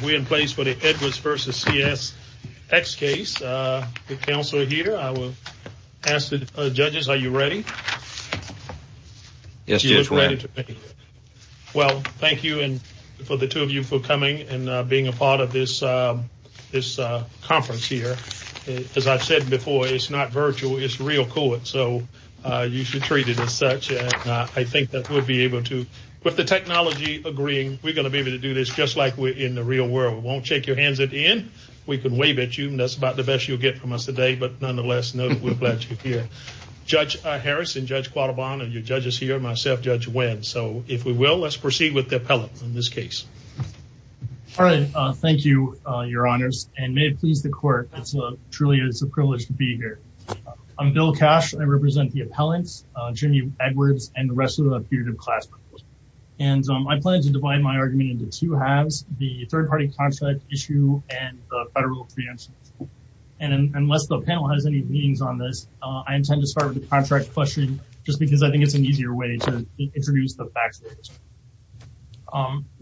If we're in place for the Edwards v. CSX case, the counsel here, I will ask the judges, are you ready? Yes, Judge, we're ready. Well, thank you for the two of you for coming and being a part of this conference here. As I've said before, it's not virtual, it's real court, so you should treat it as such. I think that we'll be able to, with the technology agreeing, we're going to be able to do this just like we're in the real world. We won't shake your hands at the end, we can wave at you, and that's about the best you'll get from us today, but nonetheless, we're glad you're here. Judge Harris and Judge Quattrobonne, and your judges here, myself, Judge Wendt. So if we will, let's proceed with the appellant in this case. All right, thank you, your honors, and may it please the court, it truly is a privilege to be here. I'm Bill Cash, I represent the appellants, Jimmy Edwards, and the rest of the peer-to-peer class. And I plan to divide my argument into two halves, the third-party contract issue and the federal preemption issue. And unless the panel has any meetings on this, I intend to start with the contract question just because I think it's an easier way to introduce the facts.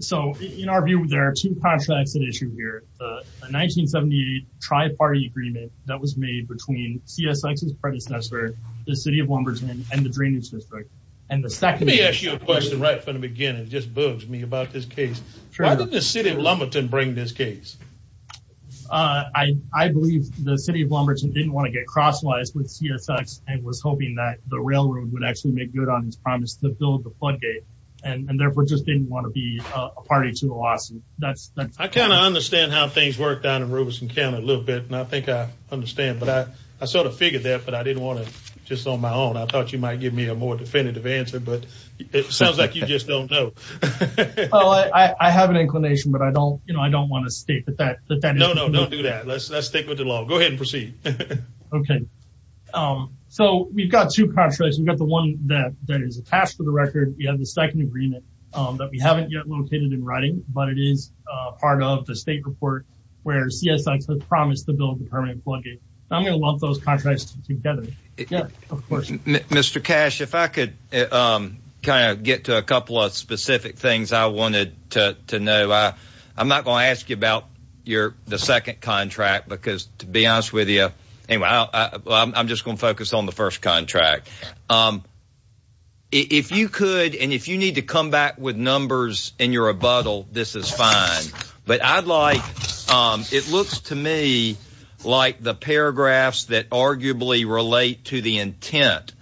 So in our view, there are two contracts at issue here, the 1978 tri-party agreement that was made between CSX's predecessor, the city of Wimbledon, and the drainage district, and Let me ask you a question right from the beginning, it just bugs me about this case. Why did the city of Wimbledon bring this case? I believe the city of Wimbledon didn't want to get crosswise with CSX and was hoping that the railroad would actually make good on its promise to build the floodgate, and therefore just didn't want to be a party to the lawsuit. I kind of understand how things work down in Robeson County a little bit, and I think I understand, but I sort of figured that, but I didn't want to, just on my own, I thought It sounds like you just don't know. I have an inclination, but I don't want to state that that is the case. No, no, don't do that. Let's stick with the law. Go ahead and proceed. Okay. So, we've got two contracts, we've got the one that is attached to the record, we have the second agreement that we haven't yet located in writing, but it is part of the state report where CSX has promised to build the permanent floodgate, and I'm going to lump those contracts together. Yeah, of course. Mr. Cash, if I could kind of get to a couple of specific things I wanted to know. I'm not going to ask you about the second contract, because to be honest with you, anyway, I'm just going to focus on the first contract. If you could, and if you need to come back with numbers in your rebuttal, this is fine, but I'd like, it looks to me like the paragraphs that arguably relate to the intent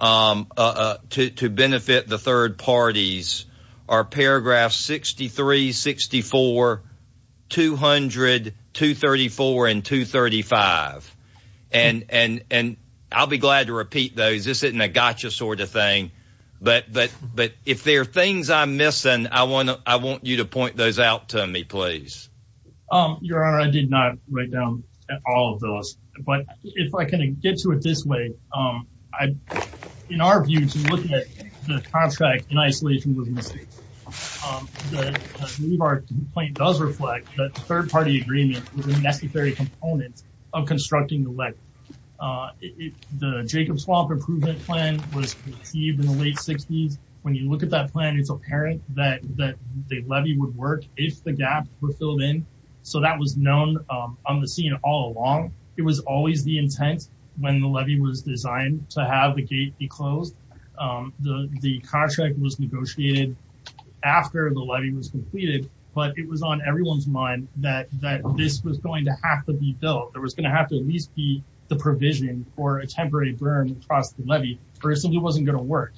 to benefit the third parties are paragraphs 63, 64, 200, 234, and 235, and I'll be glad to repeat those. This isn't a gotcha sort of thing, but if there are things I'm missing, I want you to repeat, please. Your Honor, I did not write down all of those, but if I can get to it this way, in our view, to look at the contract in isolation with the state, I believe our complaint does reflect that third party agreement was a necessary component of constructing the levee. The Jacob Swamp Improvement Plan was received in the late 60s. When you look at that plan, it's apparent that the levee would work if the gaps were filled in, so that was known on the scene all along. It was always the intent when the levee was designed to have the gate be closed. The contract was negotiated after the levee was completed, but it was on everyone's mind that this was going to have to be built. It was going to have to at least be the provision for a temporary burn across the levee, or it simply wasn't going to work.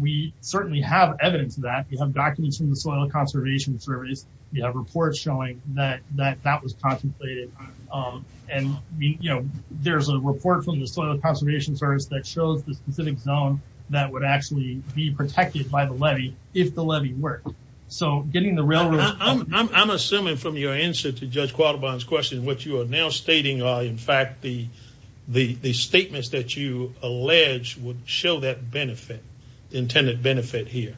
We certainly have evidence of that. We have documents from the Soil Conservation Service. We have reports showing that that was contemplated. There's a report from the Soil Conservation Service that shows the specific zone that would actually be protected by the levee, if the levee worked. So getting the real... I'm assuming from your answer to Judge Quaterbaughn's question, what you are now stating are in would show that benefit, the intended benefit here.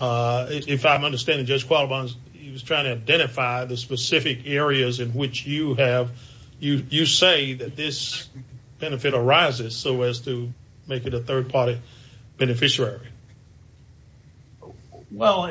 If I'm understanding, Judge Quaterbaughn, he was trying to identify the specific areas in which you have... You say that this benefit arises so as to make it a third-party beneficiary. Well,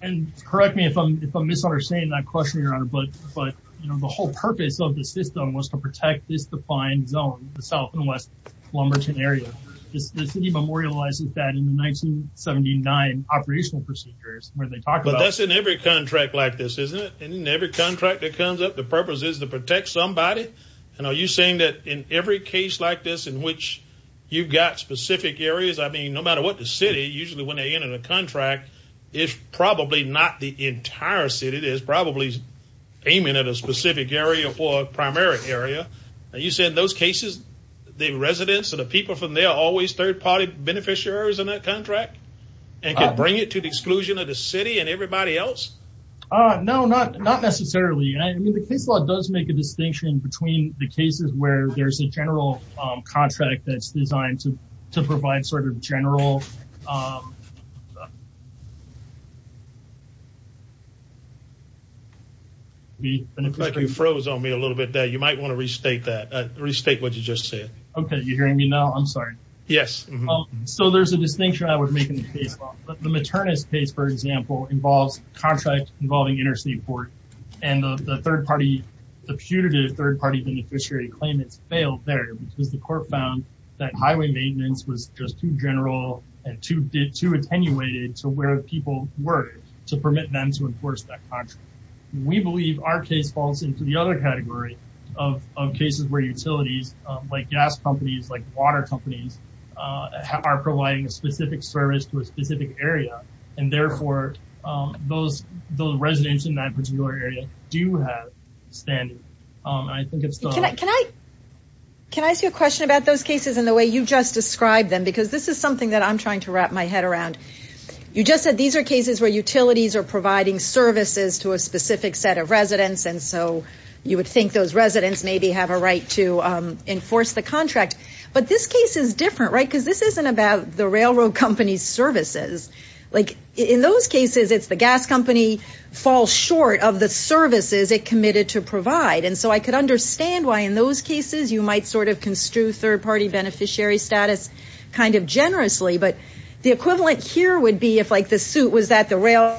and correct me if I'm misunderstanding that question, Your Honor, but the whole purpose of the system was to protect this defined zone, the South and West Plumberton area. The city memorializes that in the 1979 operational procedures where they talk about... But that's in every contract like this, isn't it? In every contract that comes up, the purpose is to protect somebody? And are you saying that in every case like this in which you've got specific areas, I mean, no matter what the city, usually when they enter the contract, it's probably not the entire city, it is probably aiming at a specific area or a primary area. You said in those cases, the residents or the people from there are always third-party beneficiaries in that contract and can bring it to the exclusion of the city and everybody else? No, not necessarily. I mean, the case law does make a distinction between the cases where there's a general contract that's designed to provide sort of general... Looks like you froze on me a little bit there. You might want to restate that. Restate what you just said. Okay. You're hearing me now? I'm sorry. Yes. So, there's a distinction I would make in the case law. The maternist case, for example, involves a contract involving interstate port, and the punitive third-party beneficiary claimants failed there because the court found that highway maintenance was just too general and too attenuated to where people were to permit them to enforce that contract. We believe our case falls into the other category of cases where utilities, like gas companies, like water companies, are providing a specific service to a specific area. And, therefore, those residents in that particular area do have standing, and I think it's the... Can I ask you a question about those cases in the way you just described them? Because this is something that I'm trying to wrap my head around. You just said these are cases where utilities are providing services to a specific set of residents, and so you would think those residents maybe have a right to enforce the contract. But this case is different, right? Because this isn't about the railroad company's services. In those cases, it's the gas company falls short of the services it committed to provide, and so I could understand why, in those cases, you might sort of construe third-party beneficiary status kind of generously, but the equivalent here would be if, like, the suit was that the rail...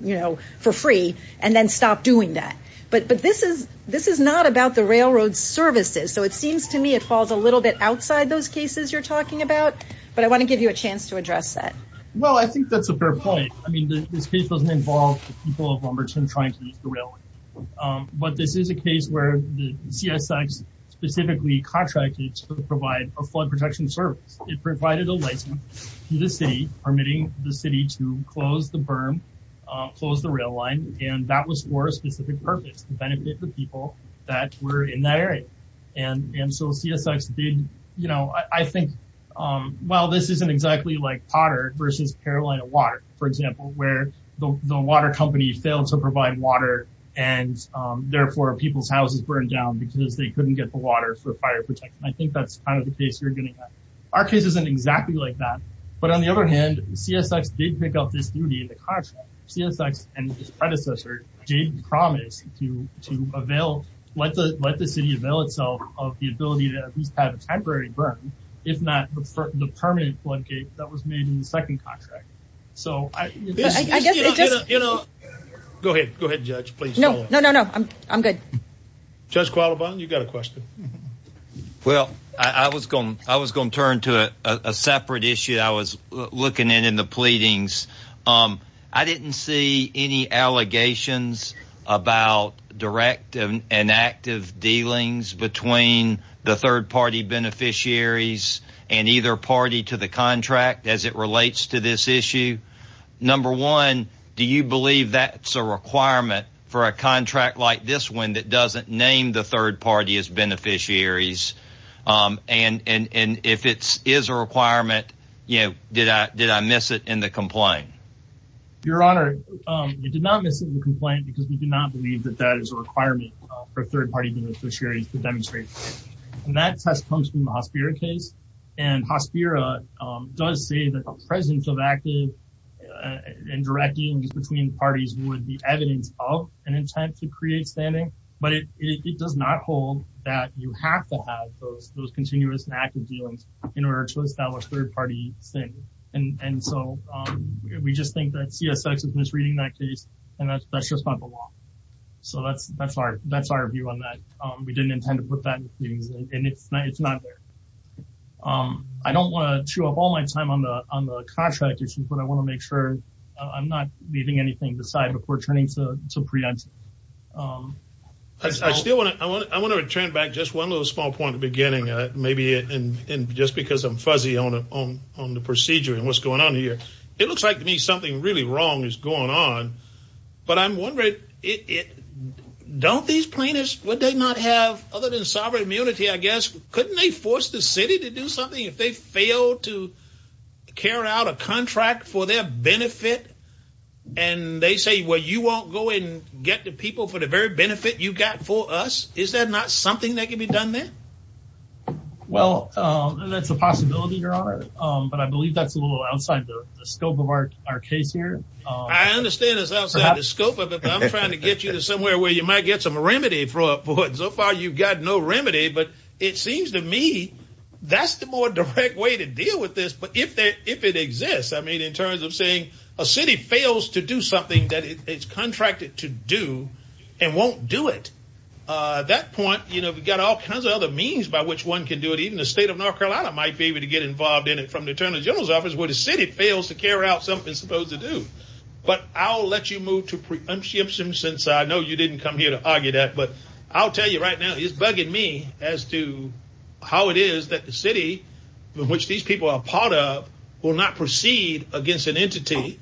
You know, for free, and then stop doing that. But this is not about the railroad's services. So it seems to me it falls a little bit outside those cases you're talking about, but I want to give you a chance to address that. Well, I think that's a fair point. I mean, this case doesn't involve the people of Lumberton trying to use the rail. But this is a case where the CSX specifically contracted to provide a flood protection service. It provided a license to the city, permitting the city to close the berm, close the rail line, and that was for a specific purpose, to benefit the people that were in that area. And so CSX did, you know, I think, well, this isn't exactly like Potter versus Carolina Water, for example, where the water company failed to provide water, and therefore, people's houses burned down because they couldn't get the water for fire protection. I think that's kind of the case you're getting at. Our case isn't exactly like that, but on the other hand, CSX did pick up this duty in the contract. And CSX and its predecessor did promise to avail, let the city avail itself of the ability to at least have a temporary berm, if not the permanent floodgate that was made in the second contract. So I guess, you know. Go ahead. Go ahead, Judge. Please. No, no, no, no. I'm good. Judge Qualabon, you got a question? Well, I was going to turn to a separate issue that I was looking at in the pleadings. I didn't see any allegations about direct and active dealings between the third-party beneficiaries and either party to the contract as it relates to this issue. Number one, do you believe that's a requirement for a contract like this one that doesn't name the third party as beneficiaries, and if it is a requirement, you know, did I miss it in the complaint? Your Honor, you did not miss it in the complaint because we do not believe that that is a requirement for third-party beneficiaries to demonstrate. And that test comes from the Hospira case, and Hospira does say that the presence of active and direct dealings between parties would be evidence of an intent to create standing, but it does not hold that you have to have those continuous and active dealings in order to establish third-party standing. And so we just think that CSX is misreading that case, and that's just not the law. So that's our view on that. We didn't intend to put that in the pleadings, and it's not there. I don't want to chew up all my time on the contract issues, but I want to make sure I'm not leaving anything to the side before turning to preemptive. I still want to return back just one little small point at the beginning, maybe just because I'm fuzzy on the procedure and what's going on here. It looks like to me something really wrong is going on, but I'm wondering, don't these plaintiffs, would they not have, other than sovereign immunity, I guess, couldn't they force the city to do something if they fail to carry out a contract for their benefit? And they say, well, you won't go and get the people for the very benefit you got for us? Is that not something that can be done there? Well, that's a possibility, Your Honor, but I believe that's a little outside the scope of our case here. I understand it's outside the scope of it, but I'm trying to get you to somewhere where you might get some remedy for it. So far you've got no remedy, but it seems to me that's the more direct way to deal with this. But if it exists, I mean, in terms of saying a city fails to do something that it's contracted to do and won't do it. At that point, you know, we've got all kinds of other means by which one can do it. Even the state of North Carolina might be able to get involved in it from the Attorney General's office where the city fails to carry out something it's supposed to do. But I'll let you move to preemption since I know you didn't come here to argue that. But I'll tell you right now, it's bugging me as to how it is that the city in which these people are a part of will not proceed against an entity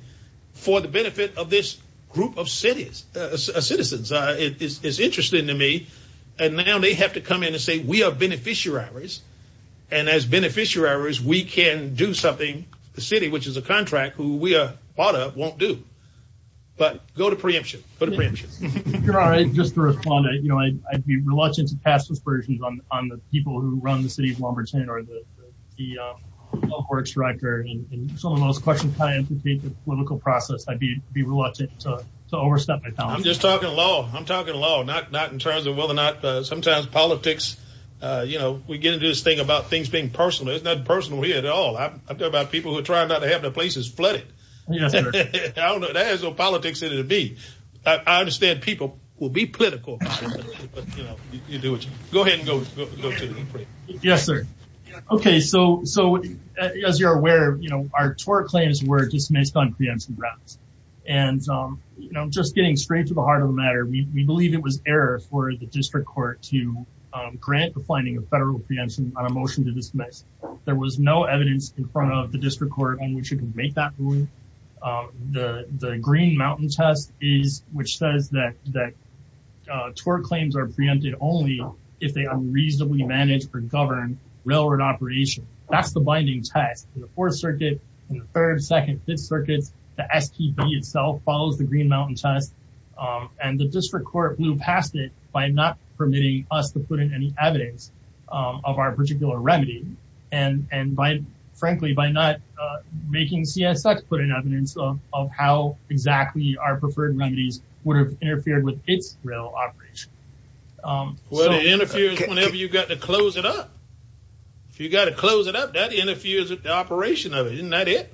for the benefit of this group of citizens. It's interesting to me, and now they have to come in and say, we are beneficiaries, and as beneficiaries, we can do something the city, which is a contract, who we are part of, won't do. But go to preemption. Go to preemption. Your Honor, just to respond, you know, I'd be reluctant to pass aspersions on the people who run the city of Wilmington or the health works director, and some of those questions kind of implicate the political process. I'd be reluctant to overstep my power. I'm just talking law. I'm talking law. Not in terms of whether or not sometimes politics, you know, we get into this thing about things being personal. It's not personal here at all. I'm talking about people who are trying not to have their places flooded. Yes, sir. I don't know. There is no politics in it to be. I understand people will be political, but, you know, you do what you. Go ahead and go to the next question. Yes, sir. Okay. So as you're aware, you know, our tort claims were dismissed on preemption grounds. And, you know, just getting straight to the heart of the matter, we believe it was error for the district court to grant the finding of federal preemption on a motion to dismiss. There was no evidence in front of the district court in which it can make that ruling. The Green Mountain test is, which says that tort claims are preempted only if they unreasonably manage or govern railroad operation. That's the binding test. In the fourth circuit, in the third, second, fifth circuits, the STB itself follows the Green Mountain test. And the district court blew past it by not permitting us to put in any evidence of our particular remedy and by, frankly, by not making CSX put in evidence of how exactly our preferred remedies would have interfered with its rail operation. Well, it interferes whenever you've got to close it up. If you've got to close it up, that interferes with the operation of it. Isn't that it?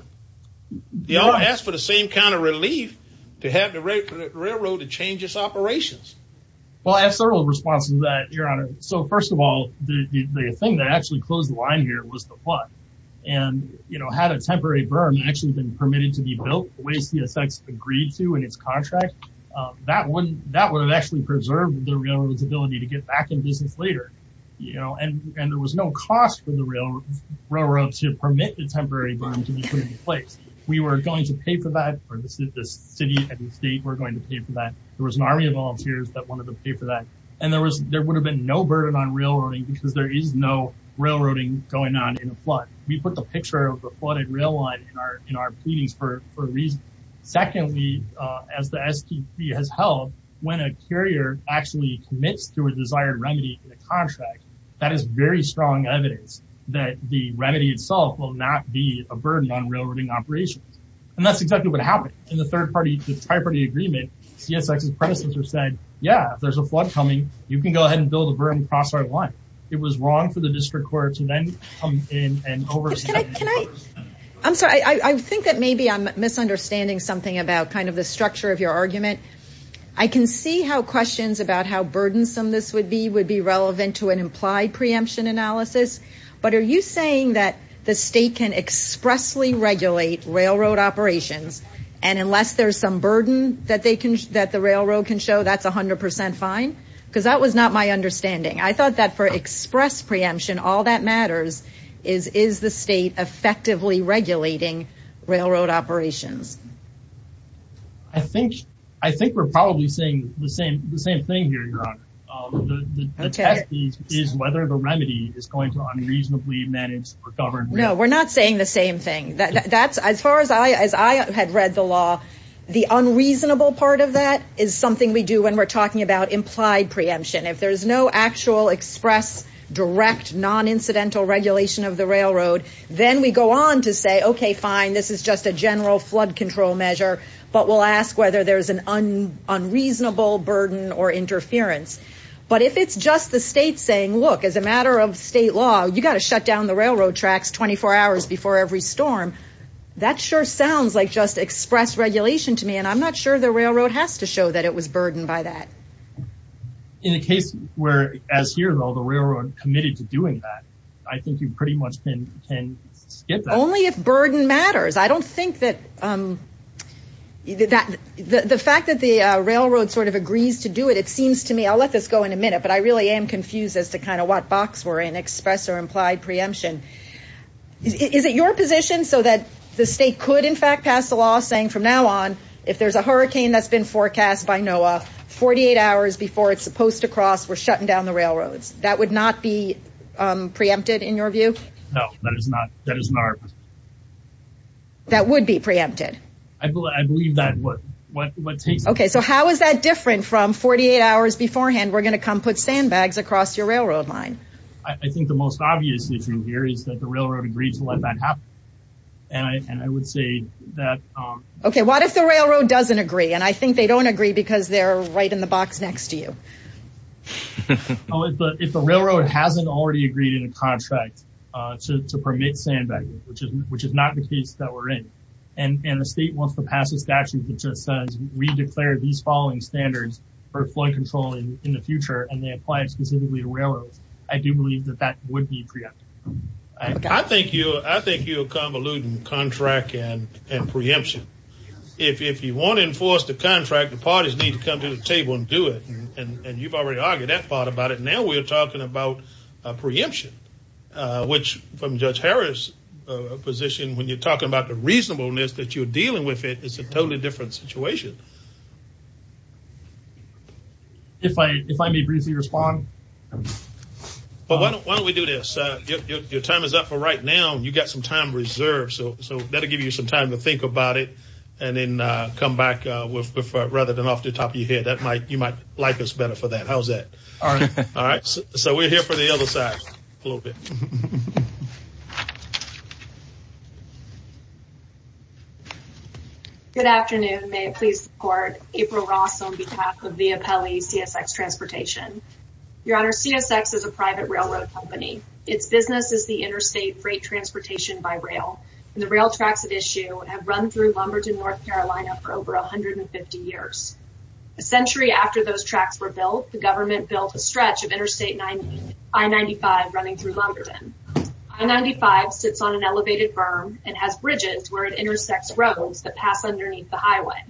They all ask for the same kind of relief to have the railroad to change its operations. Well, I have several responses to that, Your Honor. So first of all, the thing that actually closed the line here was the flood. And you know, had a temporary burn actually been permitted to be built the way CSX agreed to in its contract, that would have actually preserved the railroad's ability to get back in business later. And there was no cost for the railroad to permit the temporary burn to be put in place. We were going to pay for that, or the city and the state were going to pay for that. There was an army of volunteers that wanted to pay for that. And there would have been no burden on railroading because there is no railroading going on in a flood. We put the picture of a flooded rail line in our pleadings for a reason. Secondly, as the STP has held, when a carrier actually commits to a desired remedy in a contract, that is very strong evidence that the remedy itself will not be a burden on railroading operations. And that's exactly what happened. In the third party, the tri-party agreement, CSX's predecessor said, yeah, if there's a flood coming, you can go ahead and build a burden across our line. It was wrong for the district court to then come in and overstep the covers. I'm sorry. I think that maybe I'm misunderstanding something about kind of the structure of your argument. I can see how questions about how burdensome this would be would be relevant to an implied preemption analysis. But are you saying that the state can expressly regulate railroad operations and unless there's some burden that the railroad can show, that's 100 percent fine? Because that was not my understanding. I thought that for express preemption, all that matters is, is the state effectively regulating railroad operations? I think we're probably saying the same thing here, Your Honor. The test is whether the remedy is going to unreasonably manage or govern. No, we're not saying the same thing. As far as I, as I had read the law, the unreasonable part of that is something we do when we're talking about implied preemption. If there's no actual express, direct, non-incidental regulation of the railroad, then we go on to say, okay, fine, this is just a general flood control measure. But we'll ask whether there's an unreasonable burden or interference. But if it's just the state saying, look, as a matter of state law, you got to shut down the railroad tracks 24 hours before every storm. That sure sounds like just express regulation to me, and I'm not sure the railroad has to show that it was burdened by that. In a case where, as here though, the railroad committed to doing that, I think you pretty much can skip that. Only if burden matters. I don't think that, um, the fact that the railroad sort of agrees to do it, it seems to me, I'll let this go in a minute, but I really am confused as to kind of what box we're in, express or implied preemption. Is it your position so that the state could, in fact, pass the law saying from now on, if there's a hurricane that's been forecast by NOAA, 48 hours before it's supposed to cross, we're shutting down the railroads. That would not be, um, preempted in your view? No, that is not, that is not. That would be preempted? I believe, I believe that, what, what, what takes- Okay. So how is that different from 48 hours beforehand, we're going to come put sandbags across your railroad line? I, I think the most obvious issue here is that the railroad agreed to let that happen. And I, and I would say that, um- Okay. What if the railroad doesn't agree? And I think they don't agree because they're right in the box next to you. Oh, if the, if the railroad hasn't already agreed in a contract, uh, to, to permit sandbagging, which is, which is not the case that we're in, and, and the state wants to pass a statute that just says we've declared these following standards for flood control in the future and they apply it specifically to railroads, I do believe that that would be preempted. I, I think you, I think you're convoluting contract and, and preemption. If, if you want to enforce the contract, the parties need to come to the table and do it. And you've already argued that part about it. Now we're talking about a preemption, uh, which from Judge Harris, uh, position when you're talking about the reasonableness that you're dealing with it, it's a totally different situation. If I, if I may briefly respond. Well, why don't, why don't we do this? Uh, your, your, your time is up for right now and you've got some time reserved, so, so that'll give you some time to think about it and then, uh, come back, uh, with, with, rather than off the top of your head, that might, you might like us better for that. How's that? All right. All right. So, so we're here for the other side a little bit. Good afternoon. Good afternoon. May it please the Court. April Ross on behalf of Via Pelli CSX Transportation. Your Honor, CSX is a private railroad company. Its business is the interstate freight transportation by rail. And the rail tracks at issue have run through Lumberton, North Carolina for over 150 years. A century after those tracks were built, the government built a stretch of Interstate I-95 running through Lumberton. I-95 sits on an elevated berm and has bridges where it intersects roads that pass underneath the highway.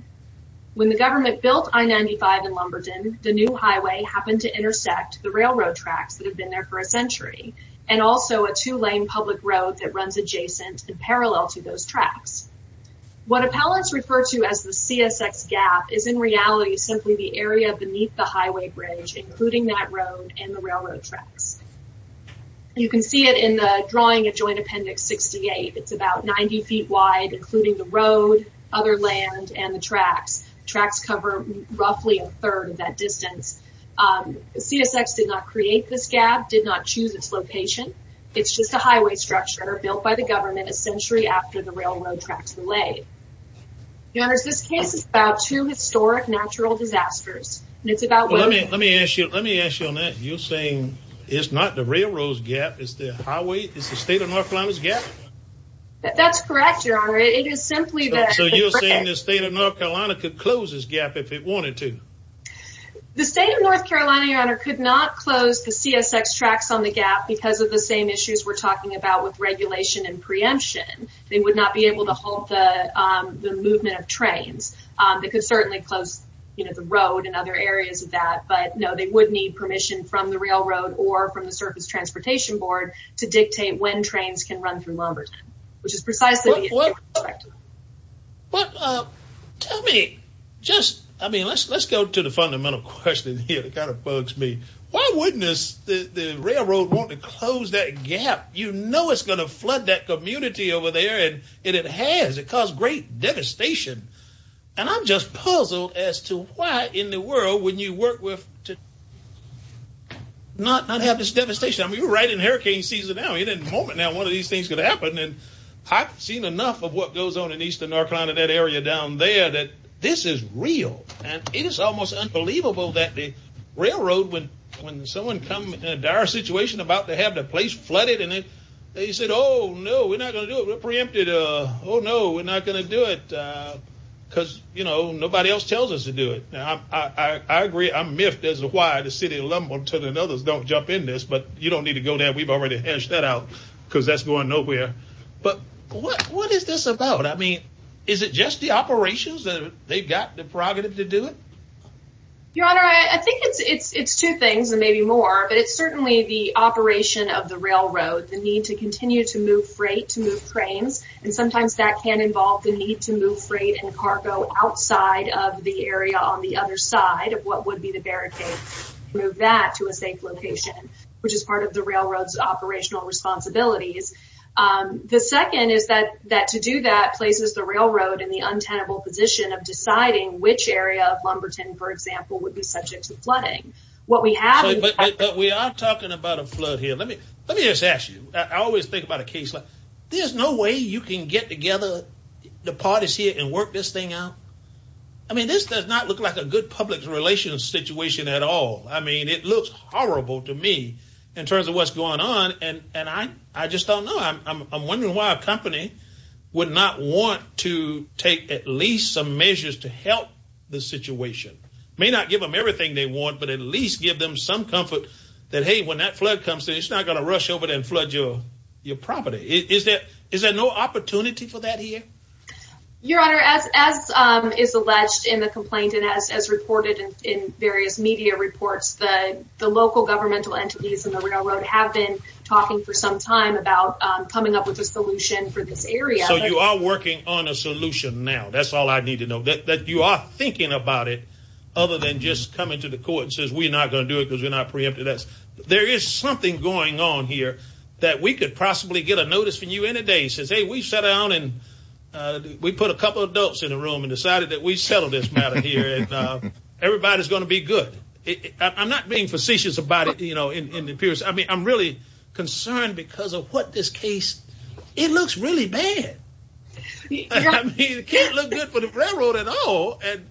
When the government built I-95 in Lumberton, the new highway happened to intersect the railroad tracks that had been there for a century and also a two-lane public road that runs adjacent and parallel to those tracks. What appellants refer to as the CSX gap is in reality simply the area beneath the highway bridge, including that road and the railroad tracks. You can see it in the drawing at Joint Appendix 68. It's about 90 feet wide, including the road, other land, and the tracks. Tracks cover roughly a third of that distance. CSX did not create this gap, did not choose its location. It's just a highway structure built by the government a century after the railroad tracks were laid. Your Honor, this case is about two historic natural disasters. And it's about... Let me ask you on that. You're saying it's not the railroad's gap, it's the state of North Carolina's gap? That's correct, Your Honor. It is simply that... So you're saying the state of North Carolina could close this gap if it wanted to? The state of North Carolina, Your Honor, could not close the CSX tracks on the gap because of the same issues we're talking about with regulation and preemption. They would not be able to halt the movement of trains. They could certainly close the road and other areas of that, but no, they would need permission from the railroad or from the Surface Transportation Board to dictate when trains can run through Lumberton, which is precisely... Well, tell me, just... I mean, let's go to the fundamental question here that kind of bugs me. Why wouldn't the railroad want to close that gap? You know it's going to flood that community over there, and it has. It caused great devastation. And I'm just puzzled as to why in the world wouldn't you work to not have this devastation? I mean, we're right in hurricane season now. I mean, in a moment now, one of these things could happen, and I've seen enough of what goes on in eastern North Carolina, that area down there, that this is real. And it is almost unbelievable that the railroad, when someone comes in a dire situation about to have their place flooded, and they said, oh, no, we're not going to do it. We're preempted. Oh, no, we're not going to do it. Because, you know, nobody else tells us to do it. Now, I agree, I'm miffed as to why the city of Lumberton and others don't jump in this, but you don't need to go there. We've already hashed that out, because that's going nowhere. But what is this about? I mean, is it just the operations that they've got the prerogative to do it? Your Honor, I think it's two things, and maybe more. But it's certainly the operation of the railroad, the need to continue to move freight, to move cranes, and sometimes that can involve the need to move freight and cargo outside of the area on the other side of what would be the barricade, and move that to a safe location. Which is part of the railroad's operational responsibilities. The second is that to do that places the railroad in the untenable position of deciding which area of Lumberton, for example, would be subject to flooding. But we are talking about a flood here. Let me just ask you, I always think about a case like this. There's no way you can get together the parties here and work this thing out? I mean, this does not look like a good public relations situation at all. I mean, it looks horrible to me in terms of what's going on, and I just don't know. I'm wondering why a company would not want to take at least some measures to help the situation. May not give them everything they want, but at least give them some comfort that, hey, when that flood comes through, it's not going to rush over and flood your property. Is there no opportunity for that here? Your Honor, as is alleged in the complaint and as reported in various media reports, the local governmental entities in the railroad have been talking for some time about coming up with a solution for this area. So you are working on a solution now. That's all I need to know. That you are thinking about it, other than just coming to the court and saying, we're not going to do it because we're not preempted. There is something going on here that we could possibly get a notice from you any day. We sat down and we put a couple of adults in the room and decided that we settled this matter here and everybody's going to be good. I'm not being facetious about it, you know, in the peers. I mean, I'm really concerned because of what this case. It looks really bad. I mean, it can't look good for the railroad at all. And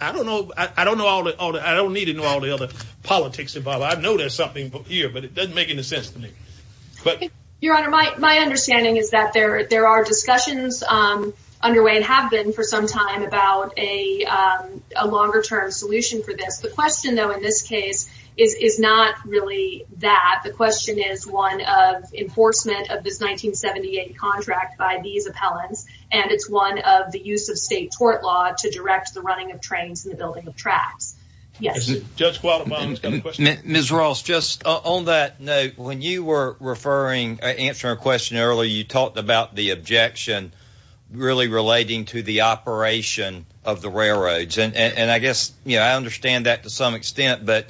I don't know. I don't know all that. I don't need to know all the other politics involved. I know there's something here, but it doesn't make any sense to me. Your Honor, my understanding is that there are discussions underway and have been for some time about a longer-term solution for this. The question, though, in this case is not really that. The question is one of enforcement of this 1978 contract by these appellants, and it's one of the use of state tort law to direct the running of trains and the building of tracks. Yes. Mr. Ross, just on that note, when you were referring, answering a question earlier, you talked about the objection really relating to the operation of the railroads. And I guess, you know, I understand that to some extent, but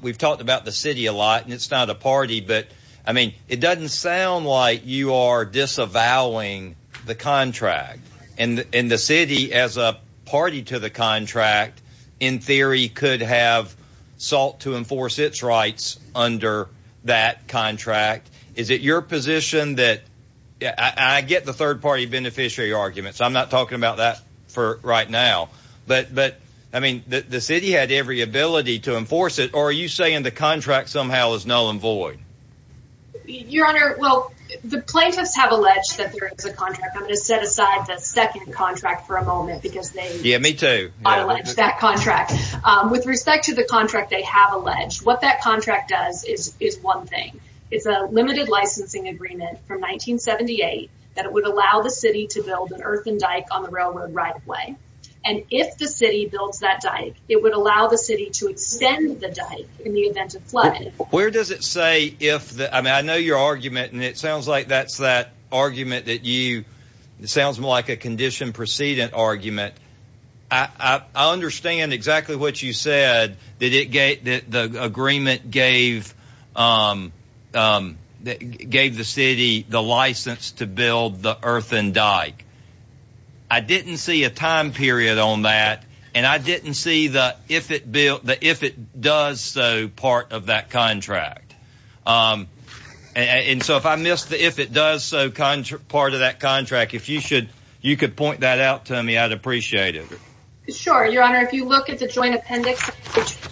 we've talked about the city a lot, and it's not a party. But, I mean, it doesn't sound like you are disavowing the contract. And the city, as a party to the contract, in theory, could have sought to enforce its rights under that contract. Is it your position that – I get the third-party beneficiary argument, so I'm not talking about that right now. But, I mean, the city had every ability to enforce it, or are you saying the contract somehow is null and void? Your Honor, well, the plaintiffs have alleged that there is a contract. I'm going to set aside the second contract for a moment because they – Yeah, me too. – have alleged that contract. With respect to the contract they have alleged, what that contract does is one thing. It's a limited licensing agreement from 1978 that it would allow the city to build an earthen dike on the railroad right-of-way. And if the city builds that dike, it would allow the city to extend the dike in the event of flood. Where does it say if the – I mean, I know your argument, and it sounds like that's that argument that you – it sounds more like a condition precedent argument. I understand exactly what you said, that the agreement gave the city the license to build the earthen dike. I didn't see a time period on that, and I didn't see the if it does so part of that contract. And so if I missed the if it does so part of that contract, if you should – you could point that out to me, I'd appreciate it. Sure. Your Honor, if you look at the Joint Appendix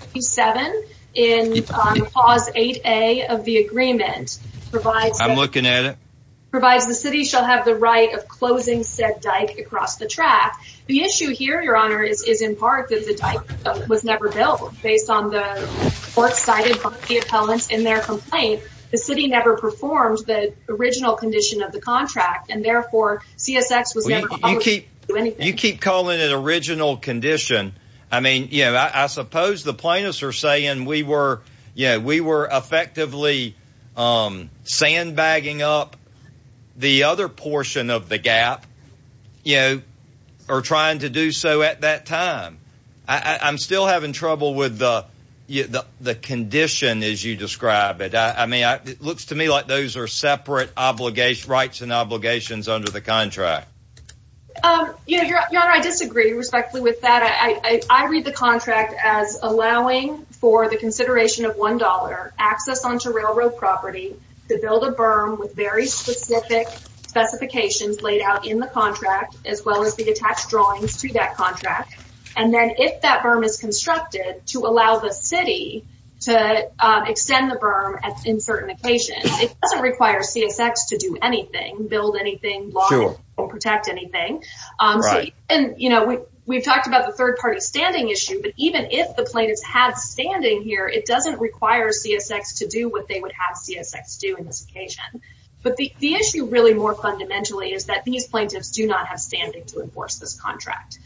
27 in Clause 8A of the agreement, provides – I'm looking at it. – provides the city shall have the right of closing said dike across the track. The issue here, Your Honor, is in part that the dike was never built based on the court cited by the appellants in their complaint. The city never performed the original condition of the contract, and therefore CSX was never – You keep calling it original condition. I mean, you know, I suppose the plaintiffs are saying we were effectively sandbagging up the other portion of the gap, you know, or trying to do so at that time. I'm still having trouble with the condition as you describe it. I mean, it looks to me like those are separate rights and obligations under the contract. Your Honor, I disagree respectfully with that. I read the contract as allowing for the consideration of $1, access onto railroad property, to build a berm with very specific specifications laid out in the contract, as well as the attached drawings to that contract. And then if that berm is constructed, to allow the city to extend the berm in certain occasions. It doesn't require CSX to do anything, build anything, block anything, or protect anything. And, you know, we've talked about the third-party standing issue, but even if the plaintiffs had standing here, it doesn't require CSX to do what they would have CSX do in this occasion. But the issue really more fundamentally is that these plaintiffs do not have standing to enforce this contract.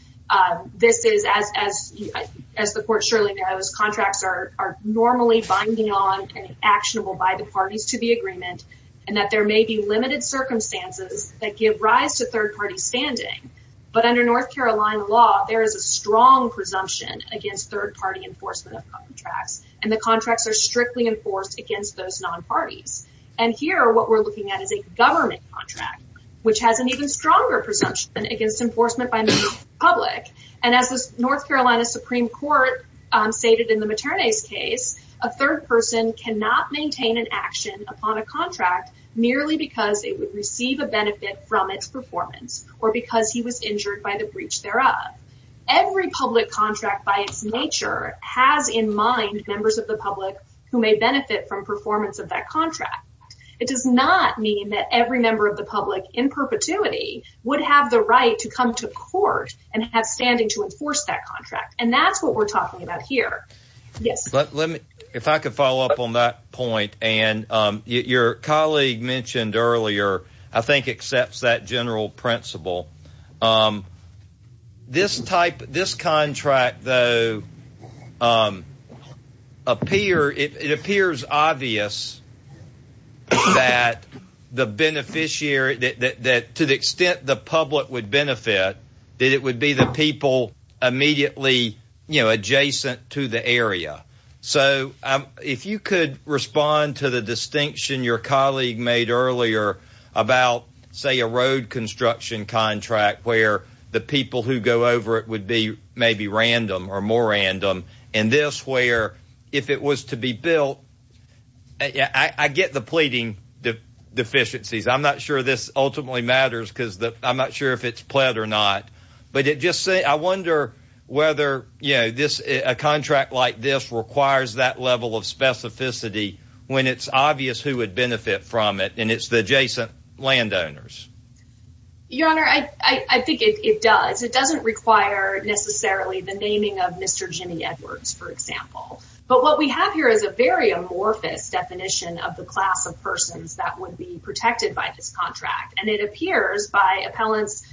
This is, as the Court surely knows, contracts are normally binding on and actionable by the parties to the agreement, and that there may be limited circumstances that give rise to third-party standing. But under North Carolina law, there is a strong presumption against third-party enforcement of contracts, and the contracts are strictly enforced against those non-parties. And here, what we're looking at is a government contract, which has an even stronger presumption against enforcement by members of the public. And as the North Carolina Supreme Court stated in the Materne's case, a third person cannot maintain an action upon a contract merely because it would receive a benefit from its performance, or because he was injured by the breach thereof. Every public contract by its nature has in mind members of the public who may benefit from performance of that contract. It does not mean that every member of the public in perpetuity would have the right to come to court and have standing to enforce that contract. And that's what we're talking about here. Yes. Let me, if I could follow up on that point. And your colleague mentioned earlier, I think, accepts that general principle. This type, this contract, though, appear, it appears obvious that the beneficiary, that to the extent the public would benefit, that it would be the people immediately, you know, adjacent to the area. So if you could respond to the distinction your colleague made earlier about, say, a new construction contract where the people who go over it would be maybe random or more random, and this where if it was to be built, I get the pleading deficiencies. I'm not sure this ultimately matters because I'm not sure if it's pled or not. But it just, I wonder whether, you know, this, a contract like this requires that level of Your Honor, I think it does. It doesn't require necessarily the naming of Mr. Jimmy Edwards, for example. But what we have here is a very amorphous definition of the class of persons that would be protected by this contract. And it appears by appellant's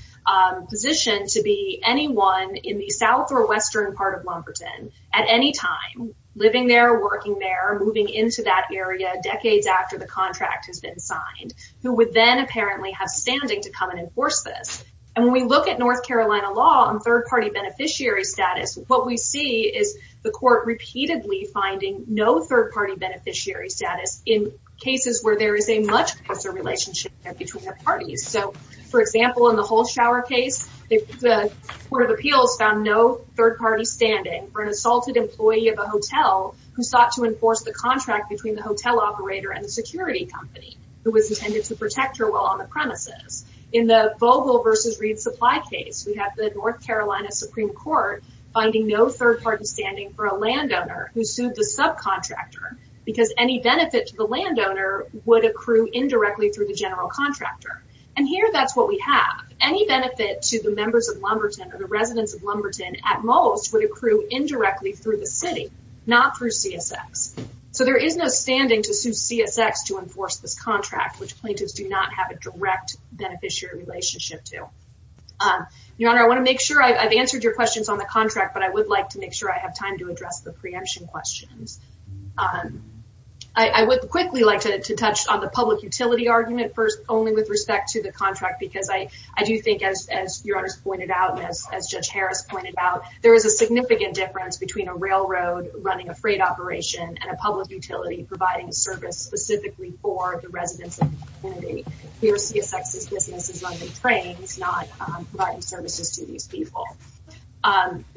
position to be anyone in the south or western part of Lumberton at any time, living there, working there, moving into that area decades after the contract has been signed, who would then apparently have standing to come and enforce this. And when we look at North Carolina law on third-party beneficiary status, what we see is the court repeatedly finding no third-party beneficiary status in cases where there is a much closer relationship there between the parties. So, for example, in the Hull Shower case, the Court of Appeals found no third-party standing for an assaulted employee of a hotel who sought to enforce the contract between the hotel operator and the security company who was intended to protect her while on the premises. In the Vogel v. Reed supply case, we have the North Carolina Supreme Court finding no third-party standing for a landowner who sued the subcontractor because any benefit to the landowner would accrue indirectly through the general contractor. And here that's what we have. Any benefit to the members of Lumberton or the residents of Lumberton at most would accrue indirectly through the city, not through CSX. So there is no standing to sue CSX to enforce this contract, which plaintiffs do not have a direct beneficiary relationship to. Your Honor, I want to make sure I've answered your questions on the contract, but I would like to make sure I have time to address the preemption questions. I would quickly like to touch on the public utility argument first, only with respect to the contract, because I do think, as Your Honors pointed out and as Judge Harris pointed out, there is a significant difference between a railroad running a freight operation and a public utility providing service specifically for the residents of the community. Here, CSX's business is running trains, not providing services to these people.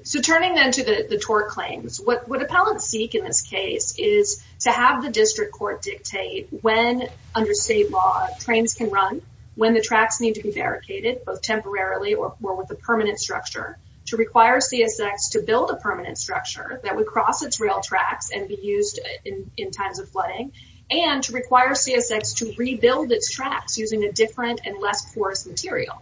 So turning then to the TOR claims, what appellants seek in this case is to have the district court dictate when, under state law, trains can run, when the tracks need to be barricaded, both temporarily or with a permanent structure, to require CSX to build a permanent structure that would cross its rail tracks and be used in times of flooding, and to require CSX to rebuild its tracks using a different and less porous material.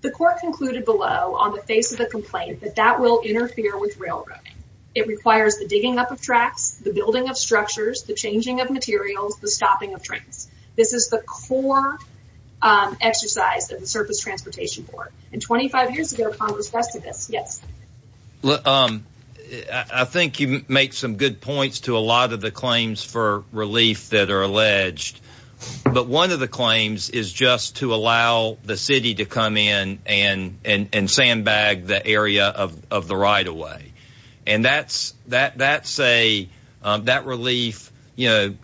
The court concluded below, on the face of the complaint, that that will interfere with railroading. It requires the digging up of tracks, the building of structures, the changing of materials, the stopping of trains. This is the core exercise of the Surface Transportation Court. And 25 years ago, Congress vested this. Yes? I think you make some good points to a lot of the claims for relief that are alleged. But one of the claims is just to allow the city to come in and sandbag the area of the right-of-way. And that's a, that relief, you know,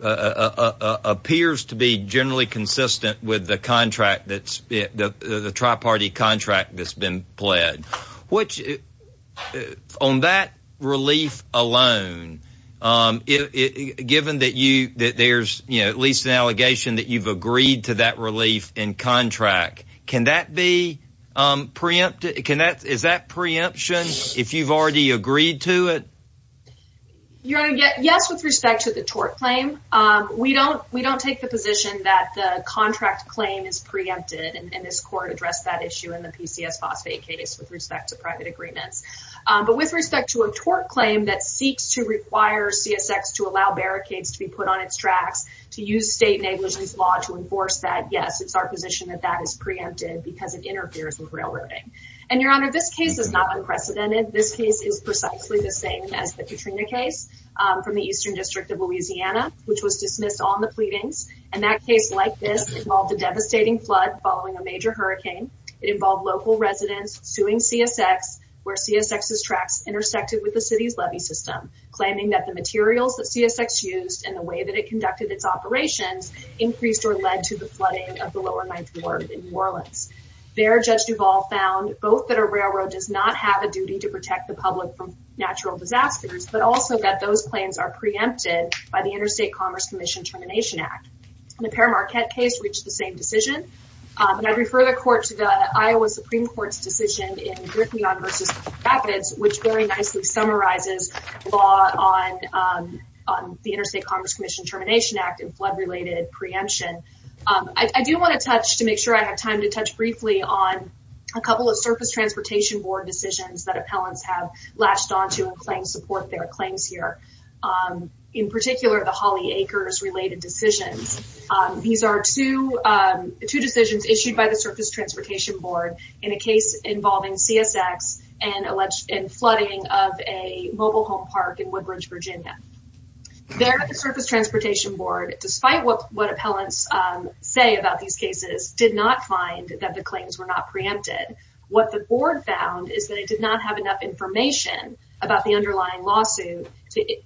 appears to be generally consistent with the contract that's, the tri-party contract that's been pledged. Which, on that relief alone, given that you, that there's, you know, at least an allegation that you've agreed to that relief in contract, can that be preempted, can that, is that preemption if you've already agreed to it? Your Honor, yes, with respect to the tort claim. We don't, we don't take the position that the contract claim is preempted, and this court addressed that issue in the PCS phosphate case with respect to private agreements. But with respect to a tort claim that seeks to require CSX to allow barricades to be put on its tracks, to use state negligence law to enforce that, yes, it's our position that that is preempted because it interferes with railroading. And, Your Honor, this case is not unprecedented. This case is precisely the same as the Katrina case from the Eastern District of Louisiana, which was dismissed on the pleadings. And that case, like this, involved a devastating flood following a major hurricane. It involved local residents suing CSX, where CSX's tracks intersected with the city's levy system, claiming that the materials that CSX used and the way that it conducted its operations increased or led to the flooding of the Lower Ninth Ward in New Orleans. There, Judge Duvall found both that a railroad does not have a duty to protect the public from natural disasters, but also that those claims are preempted by the Interstate Commerce Commission Termination Act. And the Per Marquette case reached the same decision. And I refer the court to the Iowa Supreme Court's decision in Griffion v. Rapids, which very nicely summarizes the law on the Interstate Commerce Commission Termination Act and flood-related preemption. I do want to touch, to make sure I have time to touch briefly, on a couple of Surface Transportation Board decisions that appellants have latched onto and claim support their claims here. In particular, the Holly Acres-related decisions. These are two decisions issued by the Surface Transportation Board in a case involving CSX and flooding of a mobile home park in Woodbridge, Virginia. There, the Surface Transportation Board, despite what appellants say about these cases, did not find that the claims were not preempted. What the board found is that it did not have enough information about the underlying lawsuit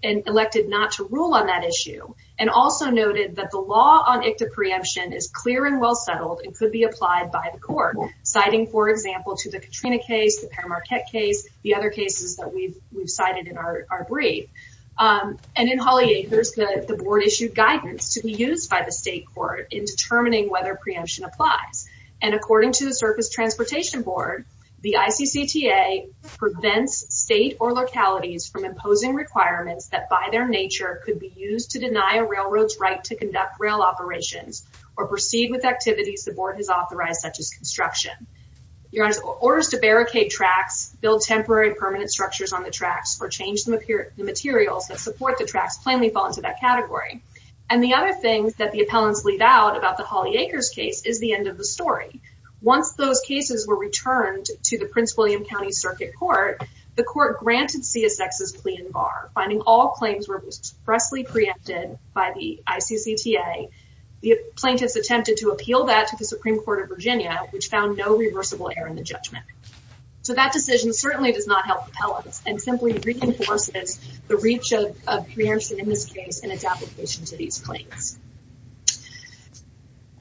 and elected not to rule on that issue. And also noted that the law on ICTA preemption is clear and well settled and could be applied by the court. Citing, for example, to the Katrina case, the Per Marquette case, the other cases that we've cited in our brief. And in Holly Acres, the board issued guidance to be used by the state court in determining whether preemption applies. And according to the Surface Transportation Board, the ICCTA prevents state or localities from imposing requirements that by their nature could be used to deny a railroad's right to conduct rail operations or proceed with activities the board has authorized, such as construction. Orders to barricade tracks, build temporary and permanent structures on the tracks, or change the materials that support the tracks plainly fall into that category. And the other thing that the appellants leave out about the Holly Acres case is the end of the story. Once those cases were returned to the Prince William County Circuit Court, the court granted CSX's plea in bar, finding all claims were expressly preempted by the ICCTA. The plaintiffs attempted to appeal that to the Supreme Court of Virginia, which found no reversible error in the judgment. So that decision certainly does not help appellants and simply reinforces the reach of preemption in this case and its application to these claims.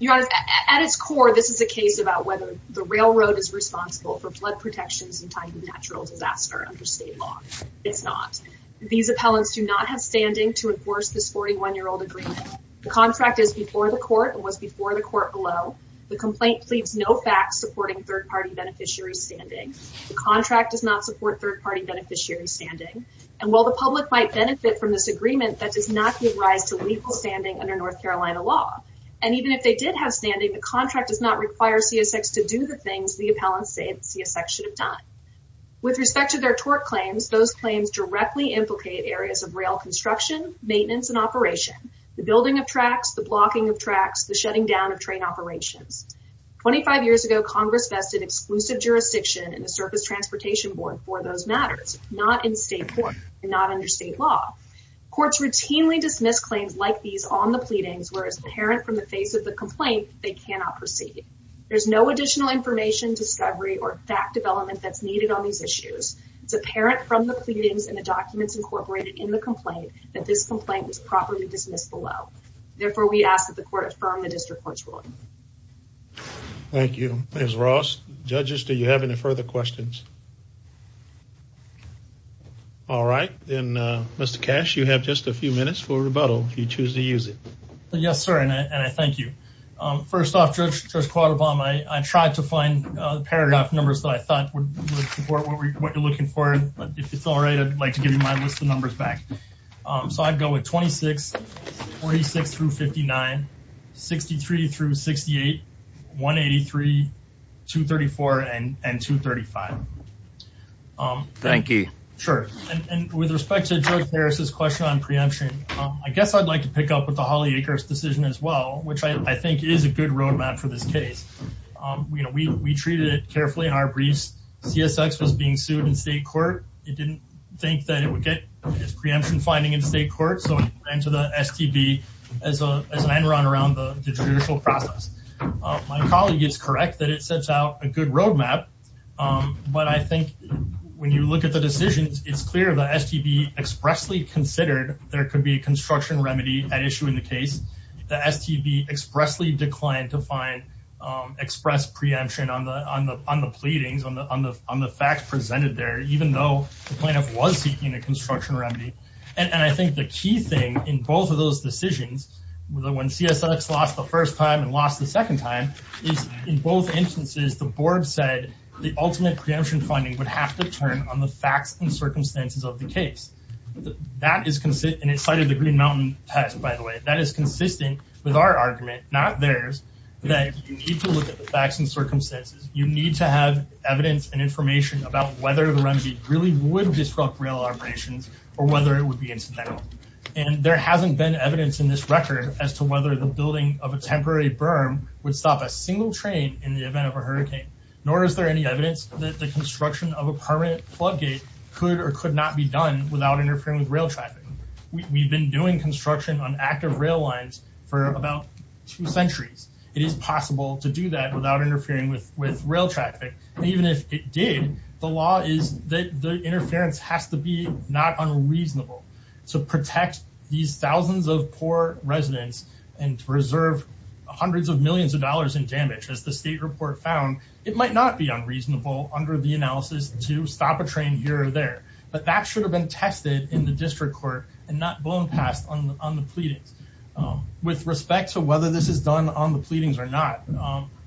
Your Honor, at its core, this is a case about whether the railroad is responsible for blood protections in time of natural disaster under state law. It's not. These appellants do not have standing to enforce this 41-year-old agreement. The contract is before the court and was before the court below. The complaint pleads no facts supporting third-party beneficiary standing. The contract does not support third-party beneficiary standing. And while the public might benefit from this agreement, that does not give rise to legal standing under North Carolina law. And even if they did have standing, the contract does not require CSX to do the things the appellants say CSX should have done. With respect to their tort claims, those claims directly implicate areas of rail construction, maintenance, and operation, the building of tracks, the blocking of tracks, the shutting down of train operations. Twenty-five years ago, Congress vested exclusive jurisdiction in the Surface Transportation Board for those matters, not in state court and not under state law. Courts routinely dismiss claims like these on the pleadings, whereas apparent from the face of the complaint, they cannot proceed. There's no additional information, discovery, or fact development that's needed on these issues. It's apparent from the pleadings and the documents incorporated in the complaint that this complaint was properly dismissed below. Therefore, we ask that the court affirm the district court's ruling. Thank you. Ms. Ross, judges, do you have any further questions? All right. Then, Mr. Cash, you have just a few minutes for rebuttal if you choose to use it. Yes, sir, and I thank you. First off, Judge Quattlebaum, I tried to find the paragraph numbers that I thought would support what you're looking for. If it's all right, I'd like to give you my list of numbers back. I'd go with 26, 46 through 59, 63 through 68, 183, 234, and 235. Thank you. Sure. With respect to Judge Harris's question on preemption, I guess I'd like to pick up with the Holly Acres decision as well, which I think is a good roadmap for this case. We treated it carefully in our briefs. CSX was being sued in state court. It didn't think that it would get its preemption finding in state court, so it went to the STB as an end run around the judicial process. My colleague is correct that it sets out a good roadmap, but I think when you look at the decisions, it's clear the STB expressly considered there could be a construction remedy at issue in the case. The STB expressly declined to find express preemption on the pleadings, on the facts presented there, even though the plaintiff was seeking a construction remedy. I think the key thing in both of those decisions, when CSX lost the first time and lost the second time, is in both instances, the board said the ultimate preemption finding would have to turn on the facts and circumstances of the case. It cited the Green Mountain test, by the way. That is consistent with our argument, not theirs, that you need to look at the facts and circumstances. You need to have evidence and information about whether the remedy really would disrupt rail operations or whether it would be incidental. There hasn't been evidence in this record as to whether the building of a temporary berm would stop a single train in the event of a hurricane, nor is there any evidence that the construction of a permanent floodgate could or could not be done without interfering with rail traffic. We've been doing construction on active rail lines for about two centuries. It is possible to do that without interfering with rail traffic. Even if it did, the law is that the interference has to be not unreasonable. To protect these thousands of poor residents and to reserve hundreds of millions of dollars in damage, as the state report found, it might not be unreasonable under the analysis to stop a train here or there. But that should have been tested in the district court and not blown past on the pleadings. With respect to whether this is done on the pleadings or not,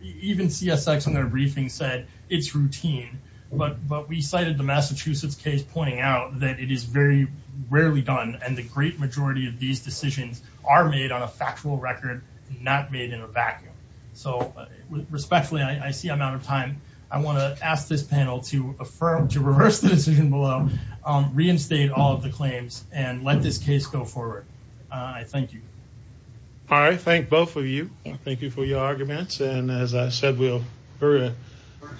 even CSX in their briefing said it's routine. But we cited the Massachusetts case pointing out that it is very rarely done and the great majority of these decisions are made on a factual record, not made in a vacuum. So respectfully, I see I'm out of time. I want to ask this panel to affirm, to reverse the decision below, reinstate all of the claims and let this case go forward. I thank you. All right. Thank both of you. Thank you for your arguments. And as I said, we're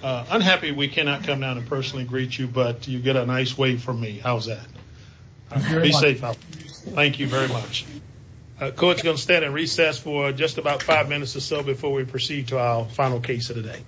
unhappy we cannot come down and personally greet you, but you get a nice wave from me. How's that? Be safe out there. Thank you very much. Court's going to stand at recess for just about five minutes or so before we proceed to our final case of the day.